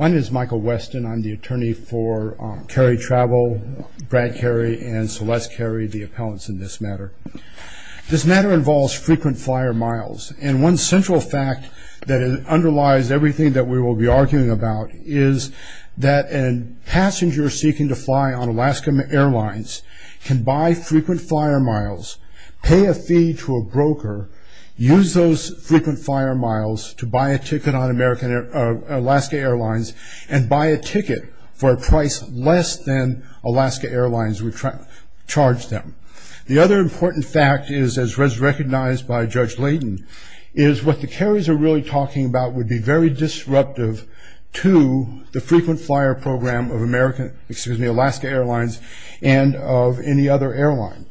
My name is Michael Weston. I'm the attorney for Carey Travel, Brad Carey and Celeste Carey, the appellants in this matter. This matter involves frequent flyer miles, and one central fact that underlies everything that we will be arguing about is that a passenger seeking to fly on Alaska Airlines can buy frequent flyer miles, pay a fee to a broker, use those frequent flyer miles to buy a ticket on Alaska Airlines, and buy a ticket for a price less than Alaska Airlines would charge them. The other important fact is, as recognized by Judge Layden, is what the Careys are really talking about would be very disruptive to the frequent flyer program of Alaska Airlines and of any other airline.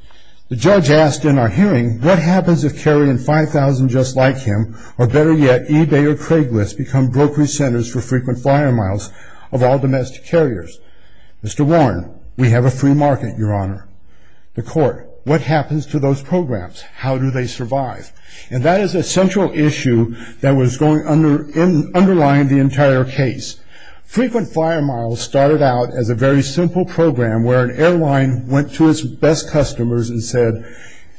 The judge asked in our hearing, what happens if Carey and 5,000 just like him, or better yet, eBay or Craigslist become brokery centers for frequent flyer miles of all domestic carriers? Mr. Warren, we have a free market, Your Honor. The court, what happens to those programs? How do they survive? And that is a central issue that was underlying the entire case. Frequent flyer miles started out as a very simple program where an airline went to its best customers and said,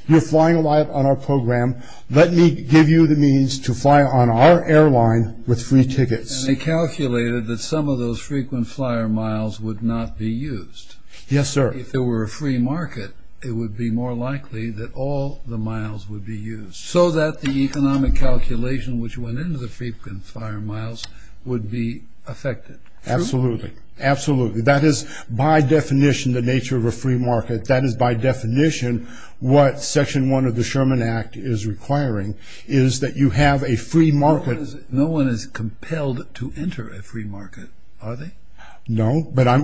you're flying a lot on our program, let me give you the means to fly on our airline with free tickets. And they calculated that some of those frequent flyer miles would not be used. Yes, sir. If there were a free market, it would be more likely that all the miles would be used, so that the economic calculation which went into the frequent flyer miles would be affected. Absolutely. Absolutely. That is by definition the nature of a free market. That is by definition what Section 1 of the Act is, that you have a free market. No one is compelled to enter a free market, are they? No, but our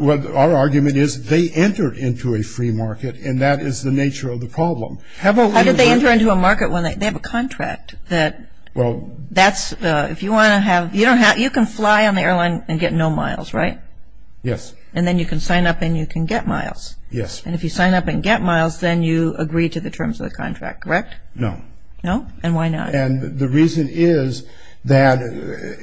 argument is they entered into a free market, and that is the nature of the problem. How did they enter into a market when they have a contract that that's, if you want to have, you can fly on the airline and get no miles, right? Yes. And then you can sign up and you can get miles. Yes. And if you sign up and get miles, then you agree to the terms of the contract, correct? No. No? And why not? And the reason is that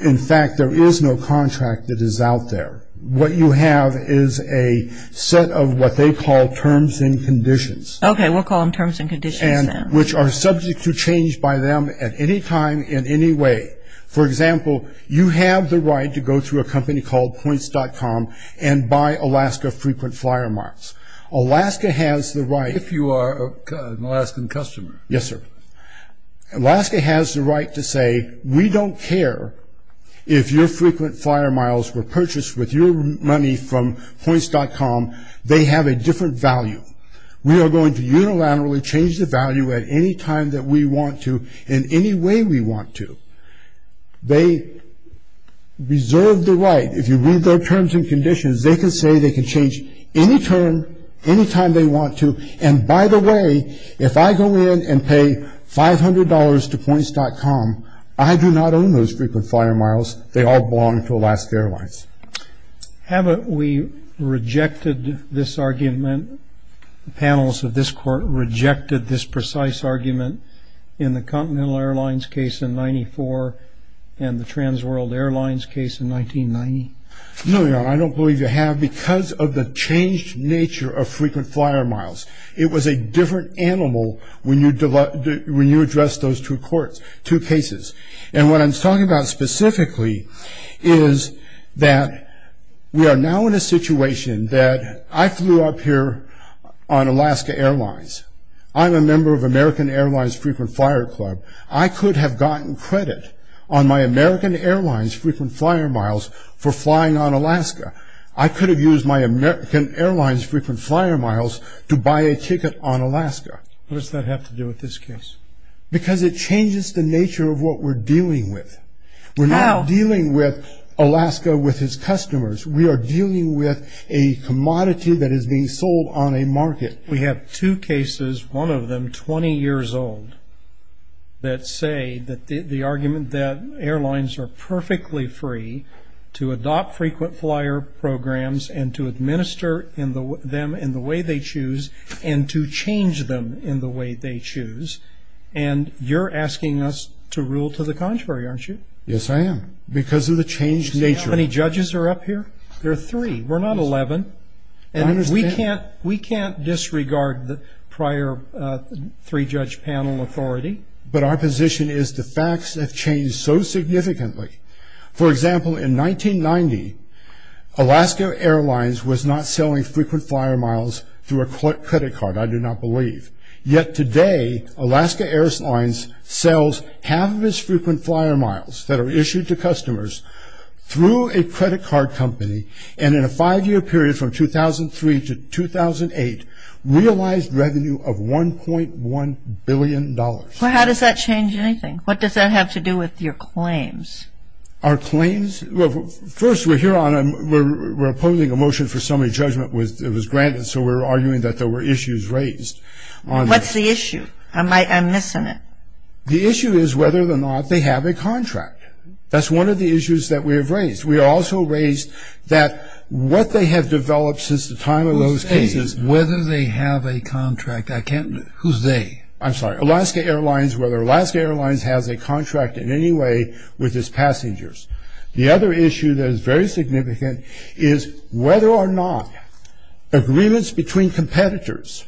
in fact there is no contract that is out there. What you have is a set of what they call terms and conditions. Okay, we'll call them terms and conditions then. Which are subject to change by them at any time in any way. For example, you have the right to go through a company called Points.com and buy Alaska Frequent Flyer Marks. Alaska has the right... If you are an Alaskan customer. Yes, sir. Alaska has the right to say, we don't care if your frequent flyer miles were purchased with your money from Points.com, they have a different value. We are going to unilaterally change the value at any time that we want to, in any way we want to. They reserve the right, if you read their terms and conditions, they can say they can change any term, any way. If I go in and pay $500 to Points.com, I do not own those frequent flyer miles, they all belong to Alaska Airlines. Haven't we rejected this argument, panels of this court rejected this precise argument in the Continental Airlines case in 94 and the Transworld Airlines case in 1990? No, Your Honor. I don't believe you have because of the changed nature of the different animal when you address those two courts, two cases. And what I'm talking about specifically is that we are now in a situation that I flew up here on Alaska Airlines. I'm a member of American Airlines Frequent Flyer Club. I could have gotten credit on my American Airlines Frequent Flyer Miles for flying on Alaska. I could have used my American Airlines Frequent Flyer Miles to buy a ticket on Alaska. What does that have to do with this case? Because it changes the nature of what we're dealing with. We're not dealing with Alaska with its customers. We are dealing with a commodity that is being sold on a market. We have two cases, one of them 20 years old, that say that the argument that airlines are perfectly free to adopt frequent flyer programs and to change them in the way they choose. And you're asking us to rule to the contrary, aren't you? Yes, I am. Because of the changed nature. See how many judges are up here? There are three. We're not 11. We can't disregard the prior three-judge panel authority. But our position is the facts have changed so significantly. For example, in 1990, Alaska Airlines was not selling Frequent Flyer Miles through a credit card, I do not believe. Yet today, Alaska Airlines sells half of its Frequent Flyer Miles that are issued to customers through a credit card company, and in a five-year period from 2003 to 2008, realized revenue of $1.1 billion. How does that change anything? What does that have to do with your claims? Our claims? First, we're opposing a motion for summary judgment. It was granted, so we're arguing that there were issues raised. What's the issue? I'm missing it. The issue is whether or not they have a contract. That's one of the issues that we have raised. We also raised that what they have developed since the time of those cases... Who's they? Whether they have a contract? Who's they? I'm sorry. Alaska Airlines, whether Alaska Airlines has a contract with Alaska Airlines. The other issue that is very significant is whether or not agreements between competitors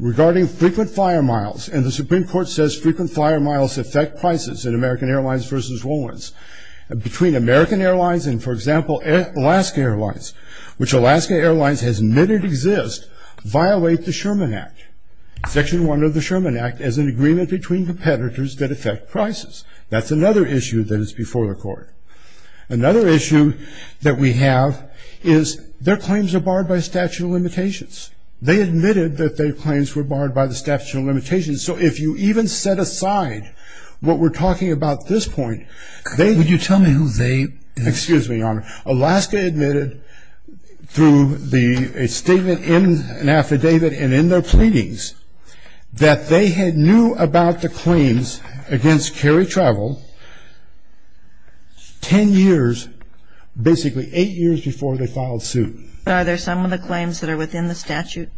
regarding Frequent Flyer Miles and the Supreme Court says Frequent Flyer Miles affect prices in American Airlines versus Rollins. Between American Airlines and, for example, Alaska Airlines, which Alaska Airlines has admitted exists, violate the Sherman Act. Section 1 of the Sherman Act is an agreement between competitors that affect prices. That's another issue that is before the court. Another issue that we have is their claims are barred by statute of limitations. They admitted that their claims were barred by the statute of limitations, so if you even set aside what we're talking about at this point... Would you tell me who they... Excuse me, Your Honor. Alaska admitted through a statement in an affidavit and in their pleadings that they had knew about the claims against carry travel ten years, basically eight years before they filed suit. But are there some of the claims that are within the statute?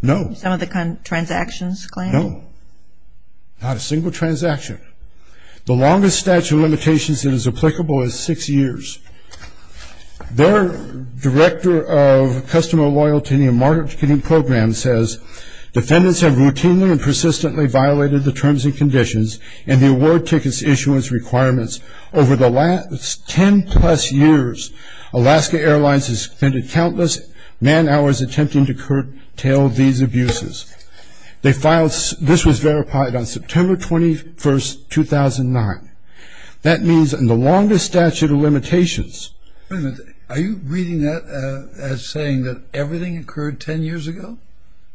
No. Some of the transactions claims? No. Not a single transaction. The longest statute of limitations that is applicable is six years. Their director of customer loyalty and marketing program says defendants have routinely and persistently violated the terms and conditions and the award tickets issuance requirements over the last ten plus years. Alaska Airlines has spent countless man hours attempting to curtail these abuses. They filed... This was verified on September 21, 2009. That means in the longest statute of limitations... Wait a minute. Are you reading that as saying that everything occurred ten years ago?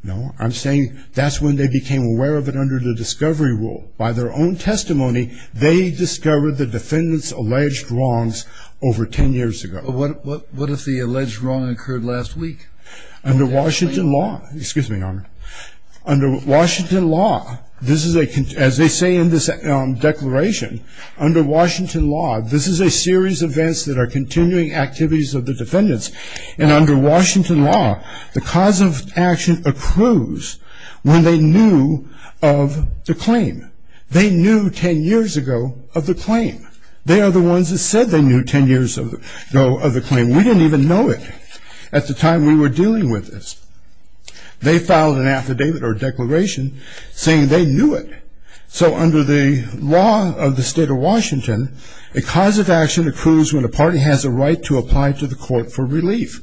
No. I'm saying that's when they became aware of it under the discovery rule. By their own testimony, they discovered the defendants alleged wrongs over ten years ago. What if the alleged wrong occurred last week? Under Washington law... Excuse me, Your Honor. Under Washington law, this is a... As they say in this declaration, under Washington law, this is a series of events that are continuing activities of the defendants. And under Washington law, the cause of action accrues when they knew of the claim. They knew ten years ago of the claim. They are the ones that said they knew ten years ago of the claim. We didn't even know it at the time we were dealing with this. They filed an affidavit or declaration saying they knew it. So under the law of the state of Washington, a cause of action accrues when a party has a right to apply to the court for relief.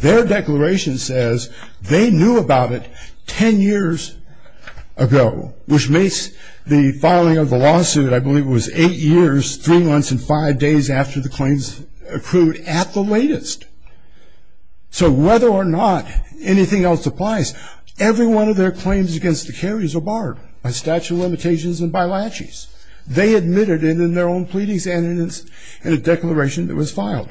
Their declaration says they knew about it ten years ago, which makes the filing of the lawsuit, I believe, was eight years, three months, and five days after the claims accrued at the latest. So whether or not anything else applies, every one of their claims against the carriers are barred by statute of limitations and by laches. They admitted it in their own pleadings and in a declaration that was filed.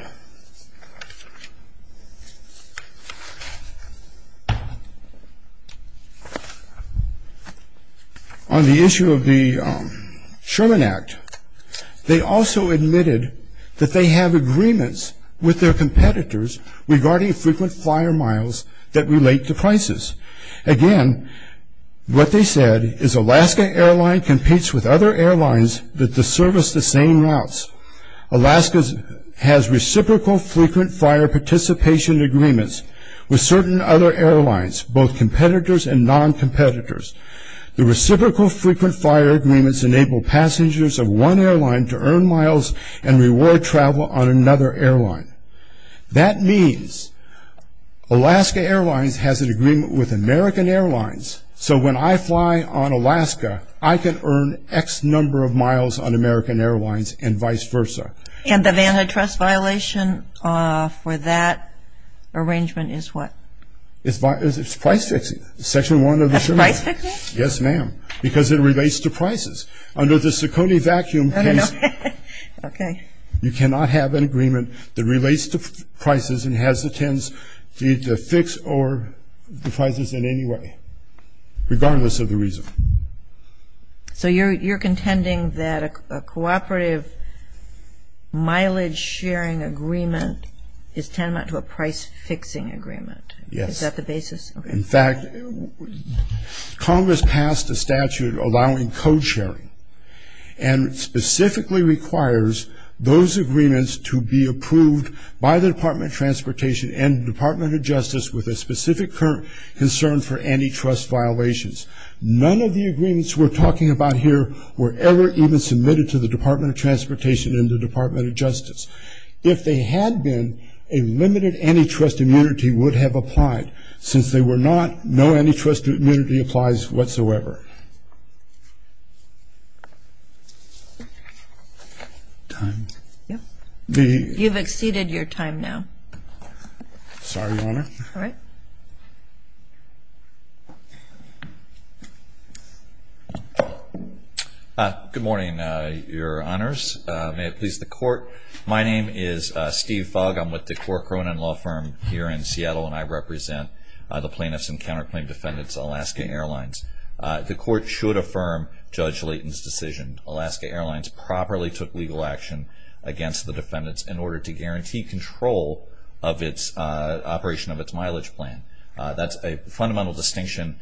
On the issue of the Sherman Act, they also admitted that they have agreements with their competitors regarding frequent flyer miles that relate to prices. Again, what they said is Alaska Airlines competes with other main routes. Alaska has reciprocal frequent flyer participation agreements with certain other airlines, both competitors and non-competitors. The reciprocal frequent flyer agreements enable passengers of one airline to earn miles and reward travel on another airline. That means Alaska Airlines has an agreement with American Airlines so when I fly on Alaska, I can earn X number of miles on American Airlines and vice versa. And the Vanta Trust violation for that arrangement is what? It's price fixing. Section 1 of the Sherman Act. Yes, ma'am, because it relates to prices. Under the Ciccone Vacuum case, you cannot have an agreement that relates to prices and has the tends to fix the prices in any way, regardless of the reason. So you're contending that a cooperative mileage sharing agreement is tantamount to a price fixing agreement? Yes. Is that the basis? In fact, Congress passed a statute allowing code sharing and specifically requires those agreements to be approved by the Department of Transportation and the Department of Justice with a specific concern for antitrust violations. None of the agreements we're talking about here were ever even submitted to the Department of Transportation and the Department of Justice. If they had been, a limited antitrust immunity would have applied. Since they were not, no antitrust immunity applies whatsoever. Time? Sorry, Your Honor. All right. Good morning, Your Honors. May it please the Court. My name is Steve Fogg. I'm with the Cora Cronin Law Firm here in Seattle, and I represent the plaintiffs and counterplaint defendants, Alaska Airlines. The Court should affirm Judge Layton's decision. Alaska Airlines properly took legal action against the defendants in order to guarantee control of its operation of its mileage plan. That's a fundamental distinction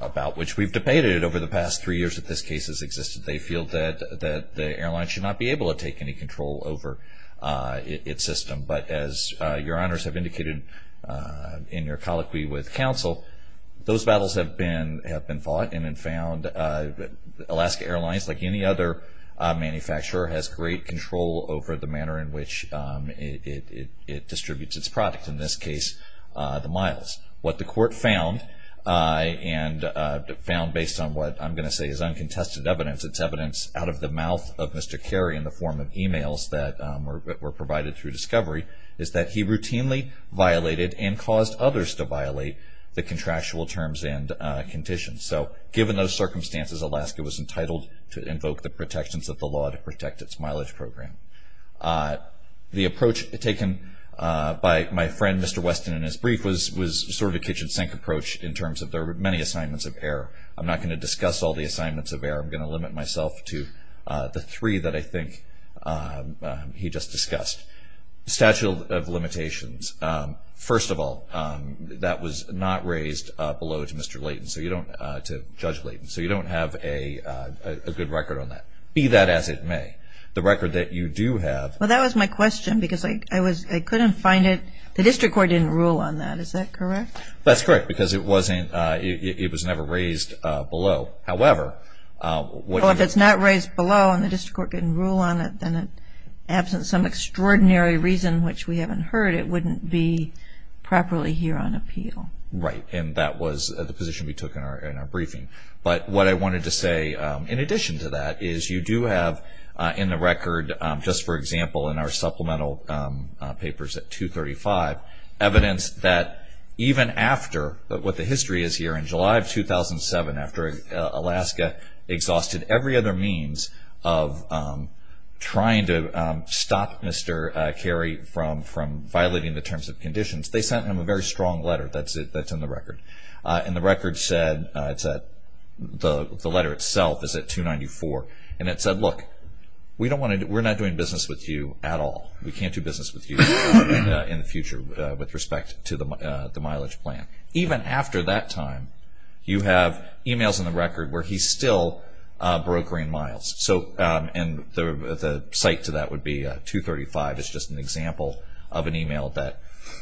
about which we've debated over the past three years that this case has existed. They feel that the airline should not be able to take any control over its system. But as Your Honors have indicated in your colloquy with counsel, those battles have been fought and found Alaska Airlines, like any other manufacturer, has great control over the manner in which it distributes its product, in this case the miles. What the Court found based on what I'm going to say is uncontested evidence, it's evidence out of the mouth of Mr. Carey in the form of emails that were provided through discovery, is that he routinely violated and caused others to violate the contractual terms and conditions. So given those circumstances, Alaska was entitled to invoke the protections of the law to protect its mileage program. The approach taken by my friend Mr. Weston in his brief was sort of a kitchen sink approach in terms of there were many assignments of error. I'm not going to discuss all the assignments of error. I'm going to limit myself to the three that I think he just discussed. Statute of Limitations. First of all, that was not raised below to Judge Layton, so you don't have a good record on that, be that as it may. The record that you do have... Well, that was my question, because I couldn't find it. The District Court didn't rule on that, is that correct? That's correct, because it was never raised below. However... Well, if it's not raised below and the District Court didn't rule on it, then in the absence of some extraordinary reason which we haven't heard, it wouldn't be properly here on appeal. Right, and that was the position we took in our briefing. But what I wanted to say in addition to that is you do have in the record, just for example in our supplemental papers at 235, evidence that even after what the history is here in July of 2007 after Alaska exhausted every other means of trying to stop Mr. Carey from violating the terms and conditions, they sent him a very strong letter that's in the record. And the record said, the letter itself is at 294, and it said, look, we're not doing business with you at all. We can't do business with you in the future with respect to the mileage plan. Even after that time you have emails in the record where he's still brokering miles. And the site to that would be 235 is just an example of an email that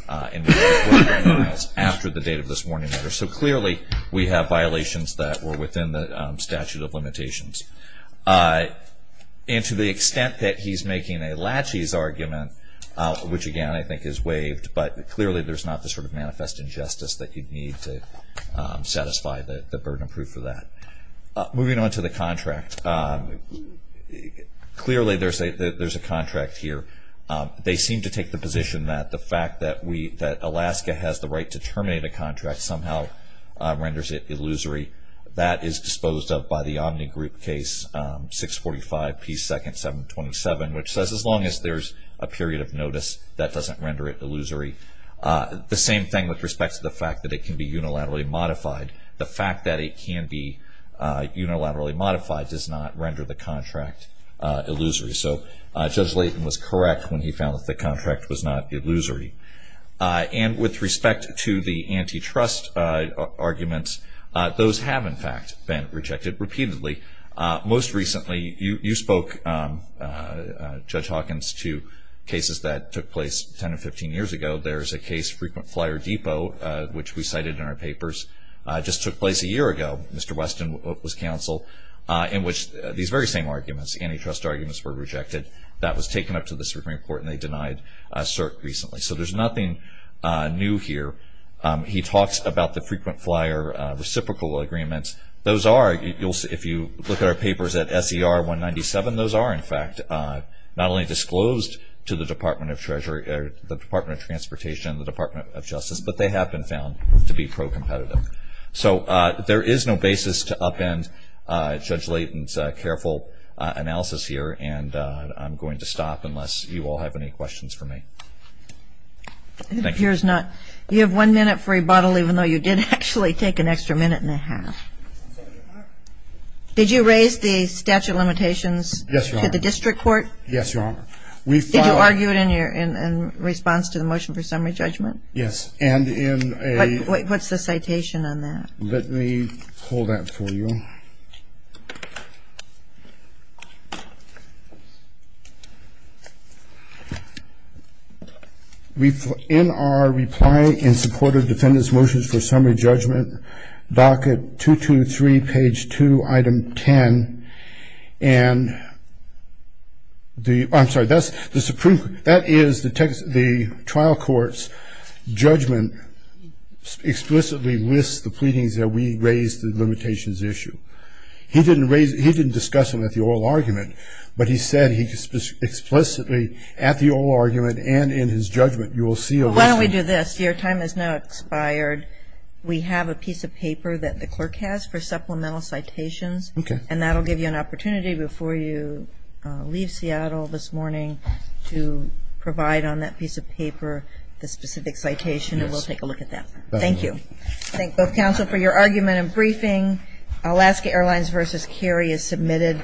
was brokering miles after the date of this warning letter. So clearly we have violations that were within the statute of limitations. And to the extent that he's making a latches argument which again I think is waived, but clearly there's not the sort of manifest injustice that you'd need to satisfy the burden of proof for that. Moving on to the contract, clearly there's a contract here. They seem to take the fact that Alaska has the right to terminate a contract somehow renders it illusory. That is disposed of by the Omni Group Case 645P2-727, which says as long as there's a period of notice, that doesn't render it illusory. The same thing with respect to the fact that it can be unilaterally modified. The fact that it can be unilaterally modified does not render the contract illusory. So Judge Layton was correct when he found that the contract was not illusory. And with respect to the antitrust arguments, those have in fact been rejected repeatedly. Most recently, you spoke, Judge Hawkins, to cases that took place 10 or 15 years ago. There's a case, Frequent Flyer Depot, which we cited in our papers, just took place a year ago. Mr. Weston was counsel in which these very same arguments, antitrust arguments, were brought to court and they denied cert recently. So there's nothing new here. He talks about the Frequent Flyer reciprocal agreements. Those are, if you look at our papers at SER 197, those are in fact not only disclosed to the Department of Transportation and the Department of Justice, but they have been found to be pro-competitive. So there is no basis to upend Judge Layton's careful analysis here and I'm going to stop unless you all have any questions for me. Thank you. You have one minute for rebuttal even though you did actually take an extra minute and a half. Did you raise the statute of limitations to the district court? Yes, Your Honor. Did you argue it in response to the motion for summary judgment? Yes, and in a... What's the citation on that? Let me pull that for you. Okay. In our reply in support of defendant's motion for summary judgment, docket 223, page 2, item 10, and the... I'm sorry, that is the trial court's judgment explicitly lists the pleadings that we raised the limitations issue. He didn't discuss them at the oral argument, but he said explicitly at the oral argument and in his judgment, you will see... Why don't we do this? Your time has now expired. We have a piece of paper that the clerk has for supplemental citations and that will give you an opportunity before you leave Seattle this morning to provide on that piece of paper the specific citation and we'll take a look at that. Thank you. Thank both counsel for your argument and briefing. Alaska Airlines v. Cary is submitted.